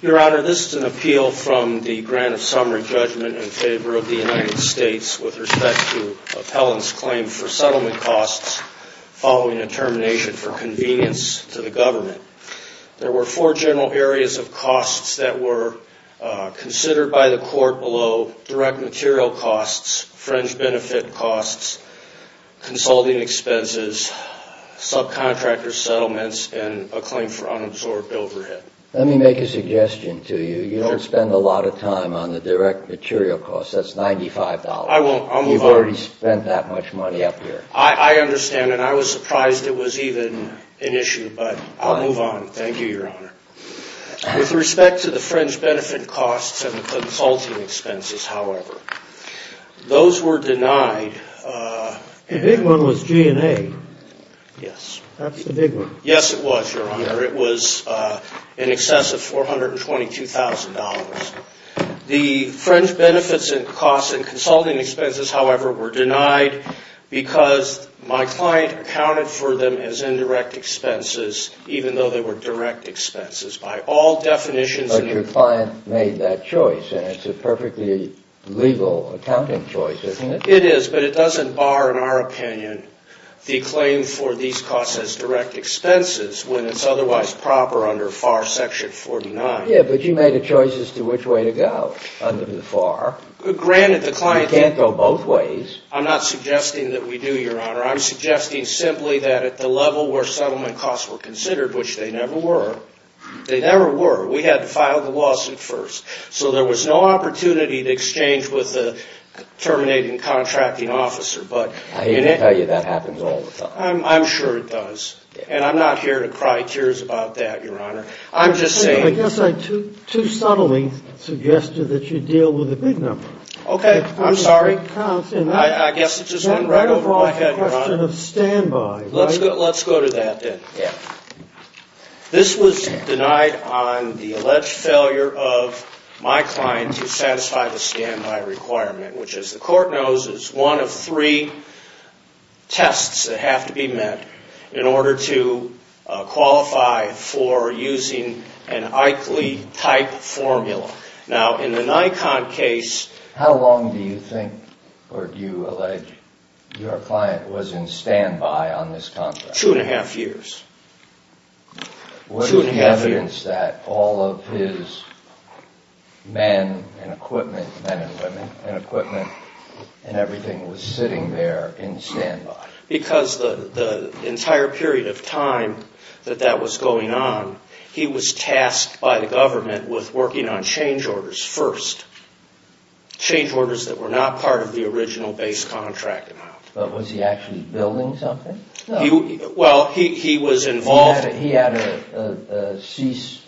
Your Honor, this is an appeal from the Grant of Summary Judgment in favor of the United States. There were four general areas of costs that were considered by the court below. Direct material costs, fringe benefit costs, consulting expenses, subcontractors' settlements, and a claim for unabsorbed overhead. Let me make a suggestion to you. You don't spend a lot of time on the direct material costs. That's $95. I won't. I'll move on. You've already spent that much money up here. I understand, and I was surprised it was even an issue, but I'll move on. Thank you, Your Honor. With respect to the fringe benefit costs and the consulting expenses, however, those were denied. The big one was G&A. Yes. That's the big one. Yes, it was, Your Honor. It was in excess of $422,000. The fringe benefits and costs and consulting expenses, however, were denied because my client accounted for them as indirect expenses, even though they were direct expenses. By all definitions, in the But your client made that choice, and it's a perfectly legal accounting choice, isn't it? It is, but it doesn't bar, in our opinion, the claim for these costs as direct expenses when it's otherwise proper under FAR Section 49. Yes, but you made a choice as to which way to go under the FAR. Granted, the client Can't go both ways. I'm not suggesting that we do, Your Honor. I'm suggesting simply that at the level where settlement costs were considered, which they never were, they never were. We had to file the lawsuit first. So there was no opportunity to exchange with the terminating contracting officer, but I hate to tell you that happens all the time. I'm sure it does, and I'm not here to cry tears about that, Your Honor. I'm just saying I guess I too subtly suggested that you deal with a big number. Okay, I'm sorry. I guess it just went right over my head, Your Honor. Then right off the question of standby, right? Let's go to that, then. This was denied on the alleged failure of my client to satisfy the standby requirement, which, as the Court knows, is one of three tests that have to be met in order to qualify for using an Eichle type formula. Now, in the Nikon case How long do you think, or do you allege, your client was in standby on this contract? Two and a half years. What is the evidence that all of his men and equipment, men and women, and equipment and everything was sitting there in standby? Because the entire period of time that that was going on, he was tasked by the government with working on change orders first. Change orders that were not part of the original base contract amount. But was he actually building something? Well, he was involved... He had a cease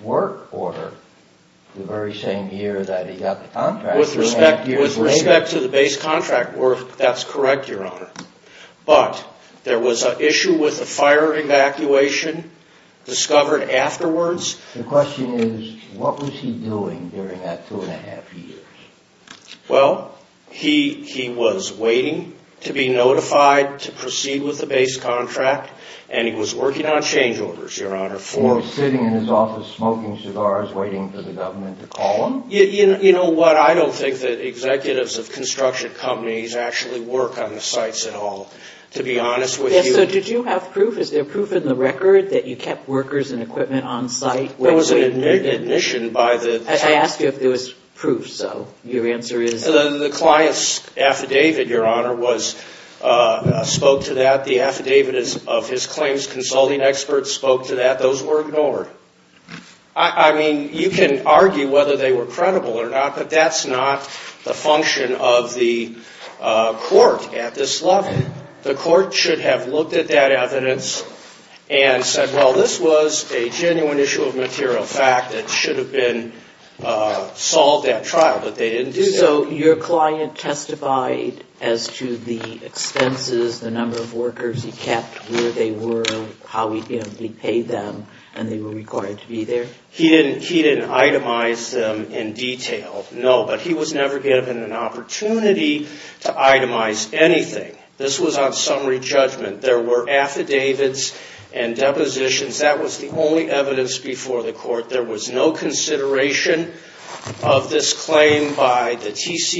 work order the very same year that he got the contract. With respect to the base contract, that's correct, Your Honor. But, there was an issue with the fire evacuation discovered afterwards. The question is, what was he doing during that two and a half years? Well, he was waiting to be notified to proceed with the base contract, and he was working on change orders, Your Honor. Or sitting in his office smoking cigars, waiting for the government to call him? You know what? I don't think that executives of construction companies actually work on the sites at all, to be honest with you. So, did you have proof? Is there proof in the record that you kept workers and equipment on site? There was an admission by the... I asked you if there was proof, so your answer is... The client's affidavit, Your Honor, spoke to that. The affidavit of his claims consulting experts spoke to that. Those were ignored. I mean, you can argue whether they were credible or not, but that's not the function of the court at this level. The court should have looked at that evidence and said, well, this was a genuine issue of material fact that should have been solved at trial, but they didn't do that. So, your client testified as to the expenses, the number of workers he kept, where they were, how he paid them, and they were required to be there? He didn't itemize them in detail, no, but he was never given an opportunity to itemize anything. This was on summary judgment. There were affidavits and depositions. That was the only evidence before the court. There was no consideration of this claim by the speaks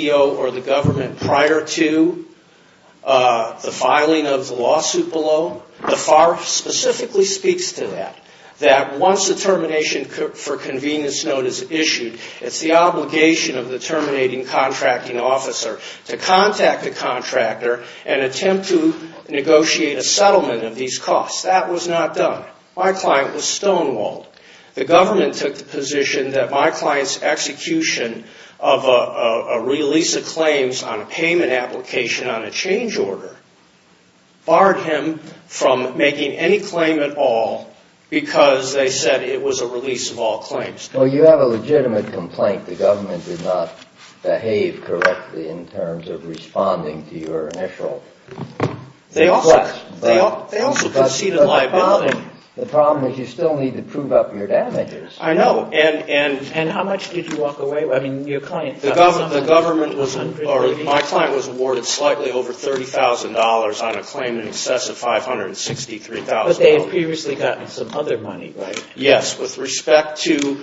to that, that once the termination for convenience note is issued, it's the obligation of the terminating contracting officer to contact the contractor and attempt to negotiate a settlement of these costs. That was not done. My client was stonewalled. The government took the position that my client's execution of a release of claims on a payment application on a change order barred him from making any claim at all because they said it was a release of all claims. Well, you have a legitimate complaint. The government did not behave correctly in terms of responding to your initial request. They also conceded liability. The problem is you still need to prove up your damages. I know. And how much did you walk away with? I mean, your client testified. My client was awarded slightly over $30,000 on a claim in excess of $563,000. But they had previously gotten some other money, right? Yes, with respect to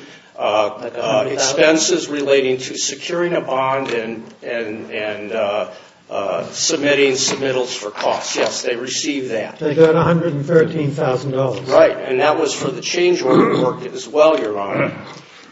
expenses relating to securing a bond and submitting submittals for costs. Yes, they received that. They got $113,000. Right. And that was for the change order work as well, Your Honor.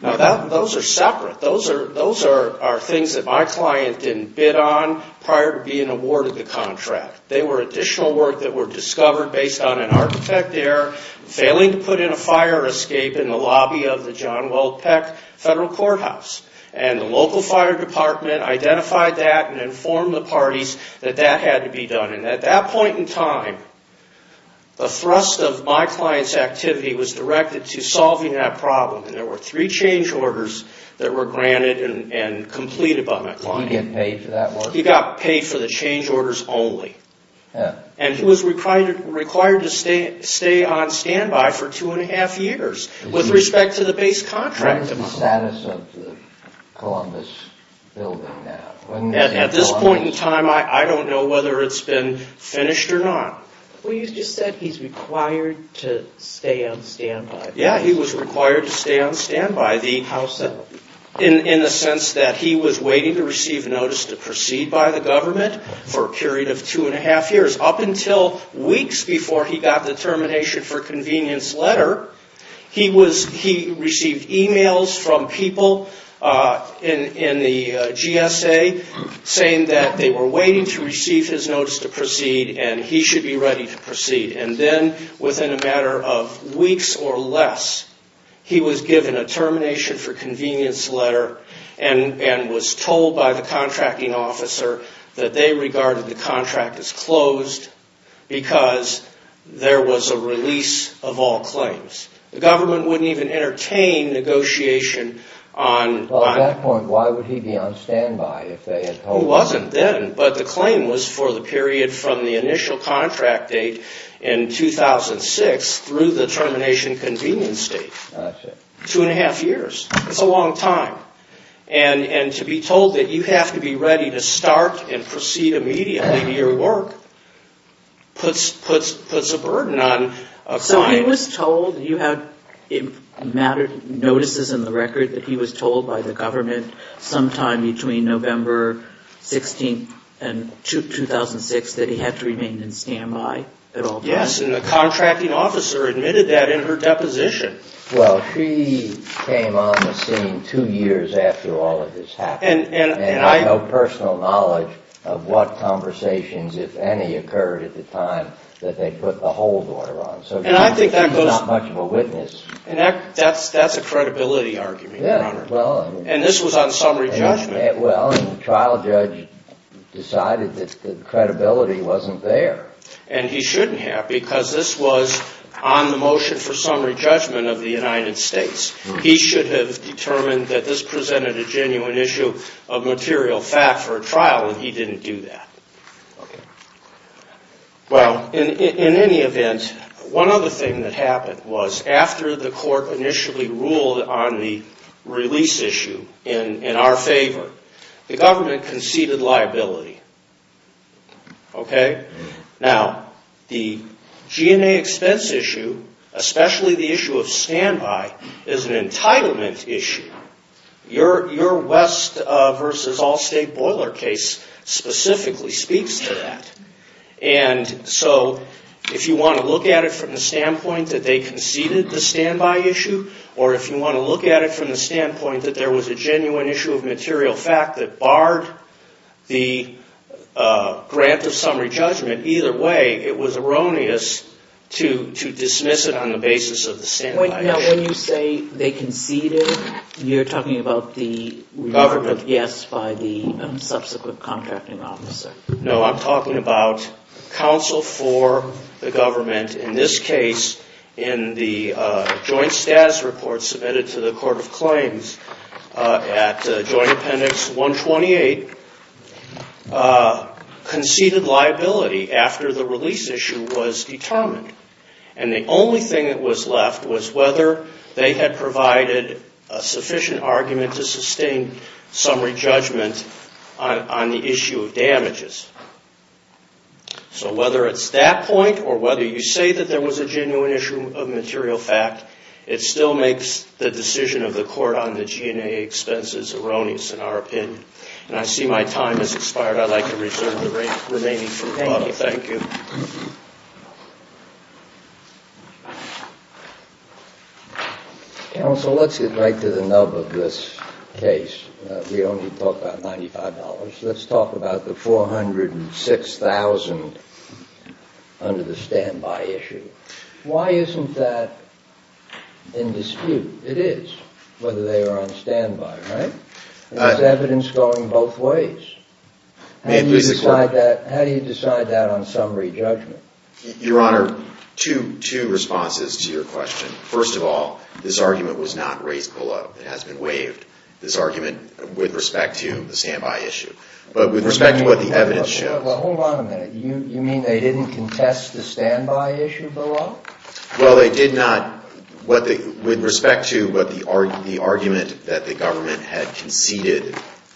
Now, those are separate. Those are things that my client didn't bid on prior to being awarded the contract. They were additional work that were discovered based on an architect there failing to put in a fire escape in the lobby of the John Weld Peck Federal Courthouse. And the local fire department identified that and informed the parties that that had to be done. And at that point in time, the thrust of my client's activity was directed to solving that problem. And there were three change orders that were granted and completed by my client. Did he get paid for that work? He got paid for the change orders only. And he was required to stay on standby for two and a half years with respect to the base contract. What is the status of the Columbus building now? At this point in time, I don't know whether it's been finished or not. Well, you just said he's required to stay on standby. Yeah, he was required to stay on standby in the sense that he was waiting to receive a notice to proceed by the government for a period of two and a half years, up until weeks before he got the termination for convenience letter. He received emails from people in the GSA saying that they were waiting to receive his notice to proceed and he should be ready to proceed. And then, within a matter of weeks or less, he was given a termination for convenience letter and was told by the contracting officer that they regarded the contract as closed because there was a release of all claims. The government wouldn't even entertain negotiation on... Well, at that point, why would he be on standby if they had told him... No, it wasn't then, but the claim was for the period from the initial contract date in 2006 through the termination convenience date. Two and a half years. It's a long time. And to be told that you have to be ready to start and proceed immediately to your work puts a burden on a client. So he was told, you had notices in the record that he was told by the government sometime between November 16th and 2006 that he had to remain in standby at all times? Yes, and the contracting officer admitted that in her deposition. Well, she came on the scene two years after all of this happened and had no personal knowledge of what conversations, if any, occurred at the time that they put the hold order on. So I think that goes... She's not much of a witness. That's a credibility argument, Your Honor. And this was on summary judgment. Well, and the trial judge decided that the credibility wasn't there. And he shouldn't have because this was on the motion for summary judgment of the United States. He should have determined that this presented a genuine issue of material fact for a trial and he didn't do that. Well, in any event, one other thing that happened was after the court initially ruled on the release issue in our favor, the government conceded liability. Now the G&A expense issue, especially the issue of standby, is an entitlement issue. Your West v. Allstate boiler case specifically speaks to that. And so if you want to look at it from the standpoint that they conceded the standby issue, or if you want to look at it from the standpoint that there was a genuine issue of material fact that barred the grant of summary judgment, either way, it was erroneous to dismiss it on the basis of the standby issue. Now when you say they conceded, you're talking about the remark of yes by the subsequent contracting officer. No, I'm talking about counsel for the government, in this case, in the Joint Supreme Court. The status report submitted to the Court of Claims at Joint Appendix 128 conceded liability after the release issue was determined. And the only thing that was left was whether they had provided a sufficient argument to sustain summary judgment on the issue of damages. So whether it's that point or whether you say that there was a genuine issue of material fact, it still makes the decision of the court on the G&A expenses erroneous in our opinion. And I see my time has expired. I'd like to reserve the remaining time. Thank you. Counsel, let's get right to the nub of this case. We only talked about $95. Let's talk about the $406,000 under the standby issue. Why isn't that in dispute? It is, whether they are on standby, right? There's evidence going both ways. How do you decide that on summary judgment? Your Honor, two responses to your question. First of all, this argument was not raised below. It has been waived, this argument, with respect to the standby issue, but with respect to what the evidence shows. Well, hold on a minute. You mean they didn't contest the standby issue below? Well, they did not. With respect to the argument that the government had conceded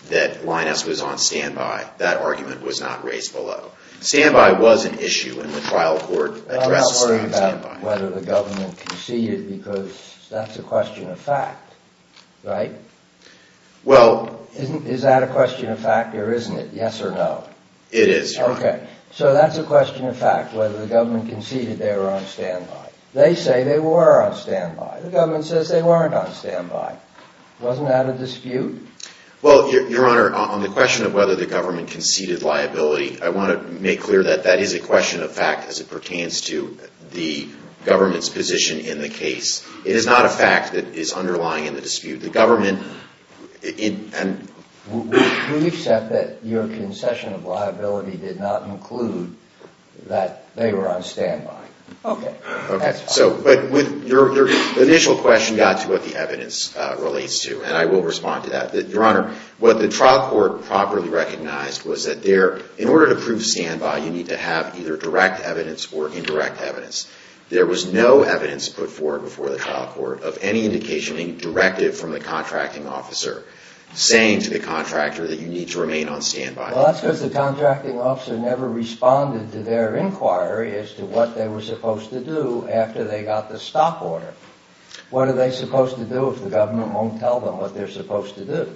that Linus was on standby, that argument was not raised below. Standby was an issue, and the trial court addressed it on standby. I'm not worried about whether the government conceded because that's a question of fact, right? Is that a question of fact or isn't it? Yes or no? It is, Your Honor. Okay. So that's a question of fact, whether the government conceded they were on standby. They say they were on standby. The government says they weren't on standby. Wasn't that a dispute? Well, Your Honor, on the question of whether the government conceded liability, I want to make clear that that is a question of fact as it pertains to the government's position in the case. It is not a fact that is underlying in the dispute. The government, it, and we accept that your concession of liability did not include that they were on standby. Okay. Okay. So, but with your initial question got to what the evidence relates to, and I will respond to that. Your Honor, what the trial court properly recognized was that there, in order to prove standby, you need to have either direct evidence or indirect evidence. There was no evidence put forward before the trial court of any indication, any directive from the contracting officer saying to the contractor that you need to remain on standby. Well, that's because the contracting officer never responded to their inquiry as to what they were supposed to do after they got the stop order. What are they supposed to do if the government won't tell them what they're supposed to do?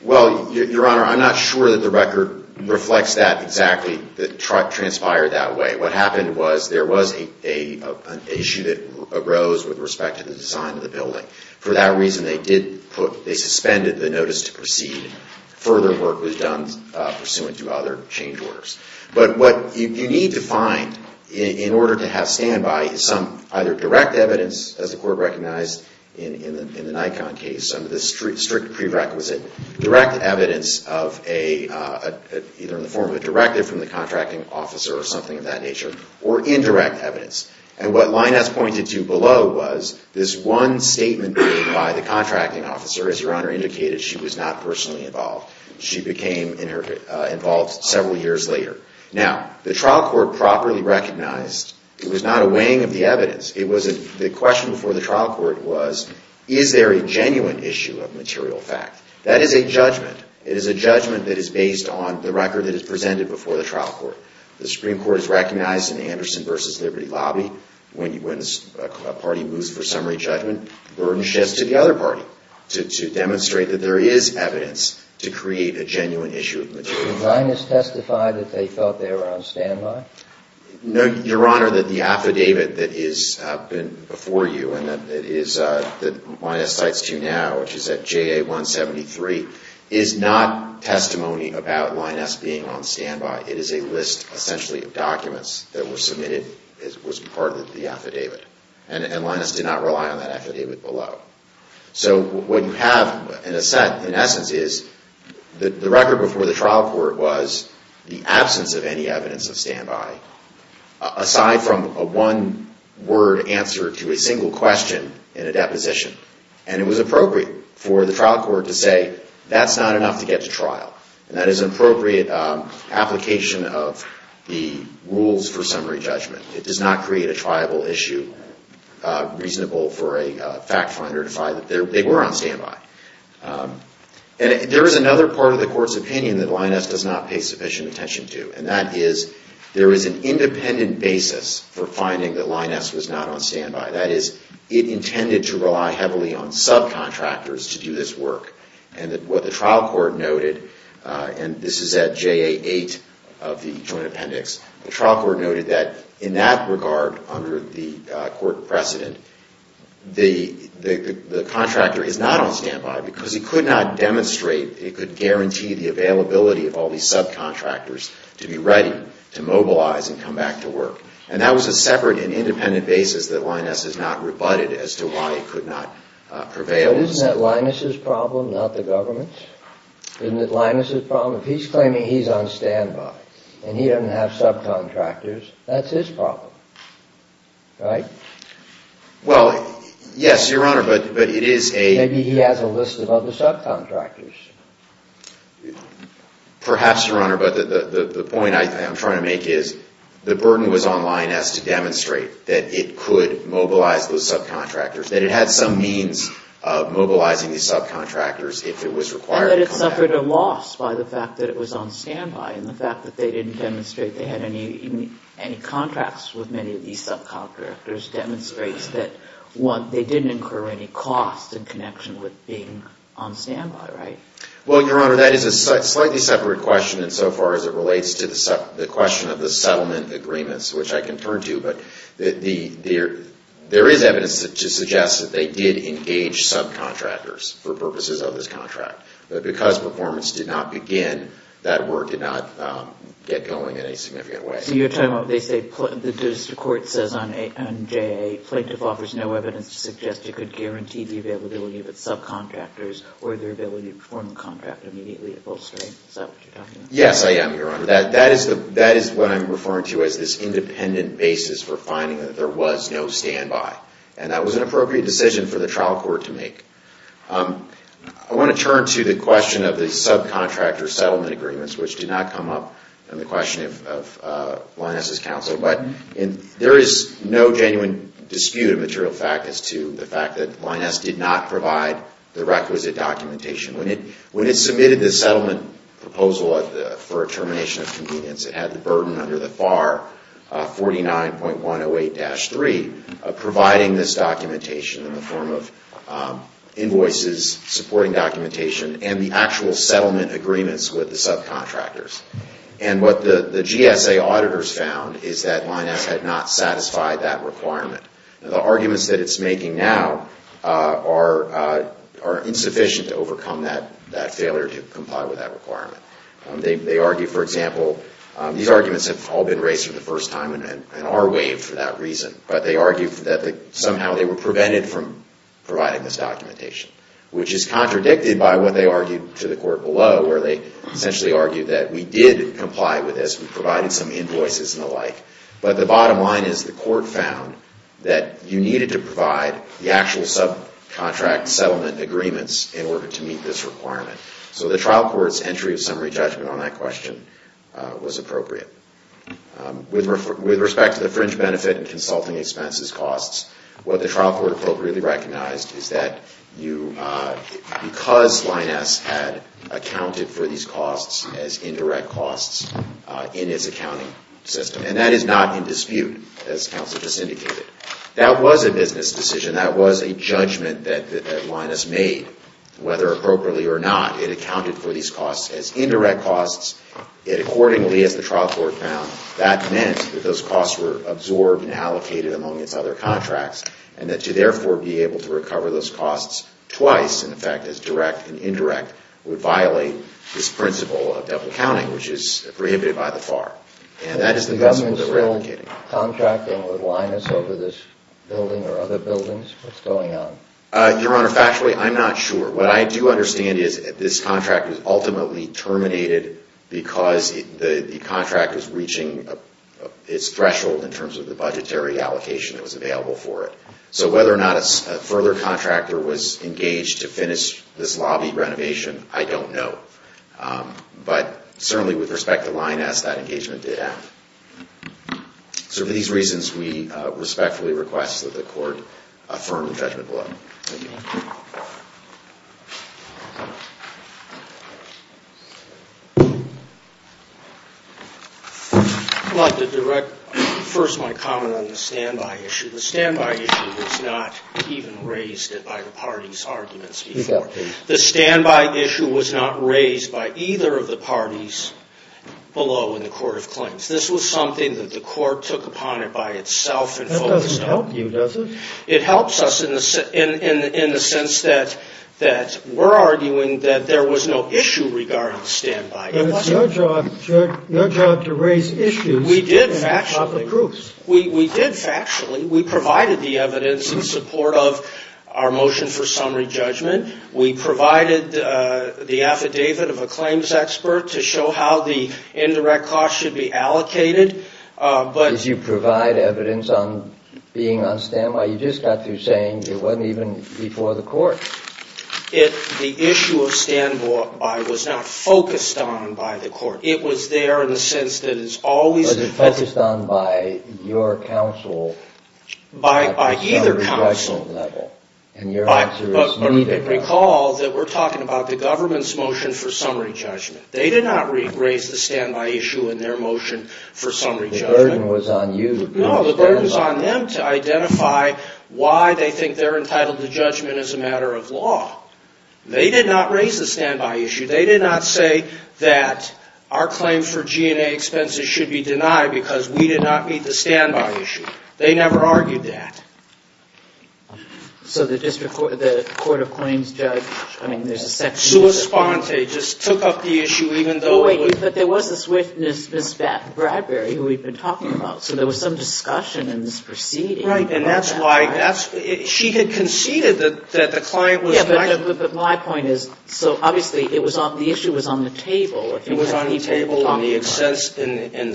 Well, Your Honor, I'm not sure that the record reflects that exactly, transpired that way. What happened was there was an issue that arose with respect to the design of the building. For that reason, they did put, they suspended the notice to proceed. Further work was done pursuant to other change orders. But what you need to find in order to have standby is some either direct evidence, as the court recognized in the Nikon case under this strict prerequisite, direct evidence of a, either in the form of a directive from the contracting officer or something of that nature, or indirect evidence. And what Linus pointed to below was this one statement by the contracting officer, as Your Honor indicated, she was not personally involved. She became involved several years later. Now, the trial court properly recognized, it was not a weighing of the evidence, it was a, the question before the trial court was, is there a genuine issue of material fact? That is a judgment. It is a judgment that is based on the record that is presented before the trial court. The Supreme Court has recognized in Anderson v. Liberty Lobby, when you, when a party moves for summary judgment, the burden sheds to the other party to demonstrate that there is evidence to create a genuine issue of material fact. Did Linus testify that they felt they were on standby? No, Your Honor, that the affidavit that is before you and that it is, that Linus cites to you now, which is at JA 173, is not testimony about Linus being on standby. It is a list essentially of documents that were submitted as part of the affidavit. And Linus did not rely on that affidavit below. So what you have in a sense, in essence, is the record before the trial court was the absence of any evidence of standby, aside from a one-word answer to a single question in a deposition. And it was appropriate for the trial court to say, that's not enough to get to trial. That is an appropriate application of the rules for summary judgment. It does not create a triable issue reasonable for a fact finder to find that they were on standby. And there is another part of the court's opinion that Linus does not pay sufficient attention to. And that is, there is an independent basis for finding that Linus was not on standby. That is, it intended to rely heavily on subcontractors to do this work. And what the trial court noted, and this is at JA 8 of the Joint Appendix, the trial court noted that in that regard under the court precedent, the contractor is not on standby because he could not demonstrate, it could guarantee the availability of all these subcontractors to be ready to mobilize and come back to work. And that was a separate and independent basis that Linus has not rebutted as to why he could not prevail. But isn't that Linus' problem, not the government's? Isn't it Linus' problem? If he's claiming he's on standby, and he doesn't have subcontractors, that's his problem. Right? Well, yes, Your Honor, but it is a... Maybe he has a list of other subcontractors. Perhaps, Your Honor, but the point I'm trying to make is, the burden was on Linus to demonstrate that it could mobilize those subcontractors, that it had some means of mobilizing these subcontractors if it was required to come back. And that it suffered a loss by the fact that it was on standby, and the fact that they didn't demonstrate they had any contracts with many of these subcontractors demonstrates that they didn't incur any costs in connection with being on standby, right? Well, Your Honor, that is a slightly separate question insofar as it relates to the question of the settlement agreements, which I can turn to. But there is evidence to suggest that they did engage subcontractors for purposes of this contract. But because performance did not begin, that work did not get going in any significant way. So you're talking about, they say, the court says on JA, plaintiff offers no evidence to suggest it could guarantee the availability of its subcontractors or their ability to perform the contract immediately at full strength. Is that what you're talking about? Yes, I am, Your Honor. That is what I'm referring to as this independent basis for finding that there was no standby. And that was an appropriate decision for the trial court to make. I want to turn to the question of the subcontractor settlement agreements, which did not come up in the question of Lyness's counsel. But there is no genuine dispute of material fact as to the fact that Lyness did not provide the requisite documentation. When it submitted the settlement proposal for a termination of convenience, it had the burden under the FAR 49.108-3 of providing this documentation in the form of invoices, supporting documentation, and the actual settlement agreements with the subcontractors. And what the GSA auditors found is that Lyness had not satisfied that requirement. The arguments that it's making now are insufficient to overcome that failure to comply with that requirement. They argue, for example, these arguments have all been raised for the first time and are waived for that reason, but they argue that somehow they were prevented from providing this documentation, which is contradicted by what they argued to the court below, where they essentially argued that we did comply with this, we provided some invoices and the like. But the bottom line is the court found that you needed to provide the actual subcontract settlement agreements in order to meet this requirement. So the trial court's entry of summary judgment on that question was appropriate. With respect to the fringe benefit and consulting expenses costs, what the trial court appropriately recognized is that because Lyness had accounted for these costs as indirect costs in its accounting system, and that is not in dispute, as counsel just indicated, that was a business decision, that was a judgment that Lyness made, whether appropriately or not, it accounted for these costs as indirect costs. Accordingly, as the and that to therefore be able to recover those costs twice, in effect, as direct and indirect, would violate this principle of double accounting, which is prohibited by the FAR. And that is the principle that we're advocating. Was the government still contracting with Lyness over this building or other buildings? What's going on? Your Honor, factually, I'm not sure. What I do understand is this contract was ultimately terminated because the contract was reaching its threshold in terms of the budgetary allocation that was available for it. So whether or not a further contractor was engaged to finish this lobby renovation, I don't know. But certainly with respect to Lyness, that engagement did happen. So for these reasons, we respectfully request that the court affirm the judgment below. I'd like to direct first my comment on the standby issue. The standby issue was not even raised by the parties' arguments before. The standby issue was not raised by either of the parties below in the court of claims. This was something that the court took upon it by itself and focused on. That doesn't help you, does it? It helps us in the sense that we're arguing that there was no issue regarding standby. But it's your job to raise issues and not the proofs. We did factually. We provided the evidence in support of our motion for summary judgment. We provided the affidavit of a claims expert to show how the indirect costs should be allocated. Did you provide evidence on being on standby? You just got through saying it wasn't even before the court. The issue of standby was not focused on by the court. It was there in the sense that it's always been. But it's focused on by your counsel. By either counsel. And your answer is needed. But recall that we're talking about the government's motion for summary judgment. They did not The burden was on you. No, the burden was on them to identify why they think they're entitled to judgment as a matter of law. They did not raise the standby issue. They did not say that our claim for G&A expenses should be denied because we did not meet the standby issue. They never argued that. So the district court, the court of claims judge, I mean there's a section Suis Ponte just took up the issue even though But there was this witness, Miss Bradbury, who we've been talking about. So there was some discussion in this proceeding. Right. And that's why she had conceded that the client was Yeah, but my point is, so obviously the issue was on the table. It was on the table in the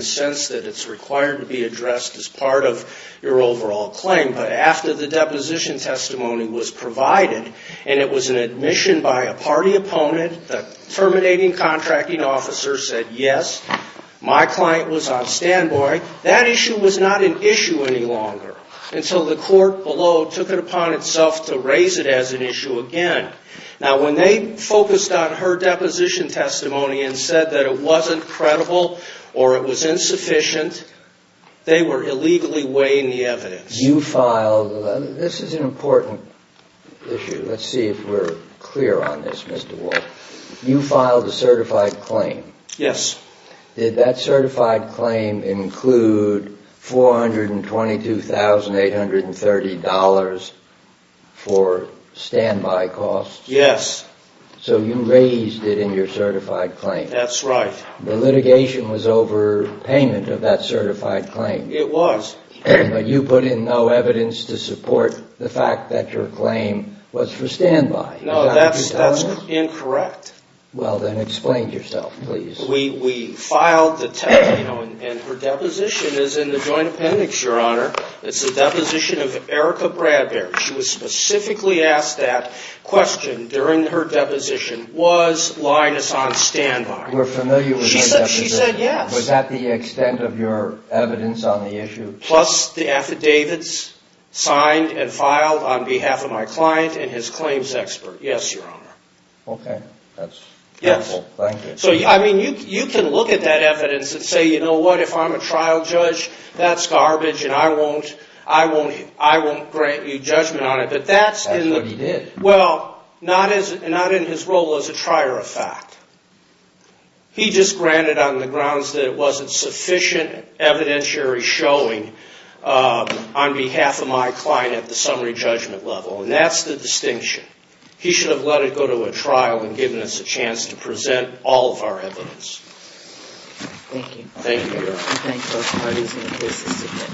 sense that it's required to be addressed as part of your overall claim. But after the deposition testimony was provided and it was an admission by a party opponent, the terminating contracting officer said yes, my client was on standby. That issue was not an issue any longer until the court below took it upon itself to raise it as an issue again. Now when they focused on her deposition testimony and said that it wasn't credible or it was insufficient, they were illegally weighing the evidence. This is an important issue. Let's see if we're clear on this, Mr. Walsh. You filed a certified claim. Yes. Did that certified claim include $422,830 for standby costs? Yes. So you raised it in your certified claim. That's right. The litigation was over payment of that certified claim. It was. But you put in no evidence to support the fact that your claim was for standby. No, that's incorrect. Well, then explain yourself, please. We filed the testimony and her deposition is in the Joint Appendix, Your Honor. It's the deposition of Erica Bradbury. She was specifically asked that question during her deposition. Was Linus on standby? We're familiar with that. She said yes. Was that the extent of your evidence on the issue? Plus the affidavits signed and filed on behalf of my client and his claims expert. Yes, Your Honor. Okay. That's helpful. Thank you. You can look at that evidence and say, you know what, if I'm a trial judge, that's garbage and I won't grant you judgment on it. That's what he did. Well, not in his role as a trier of fact. He just granted on the grounds that it wasn't sufficient evidentiary showing on behalf of my client at the summary judgment level. And that's the distinction. He should have let it go to a trial and given us a chance to present all of our evidence. Thank you. Thank you, Your Honor.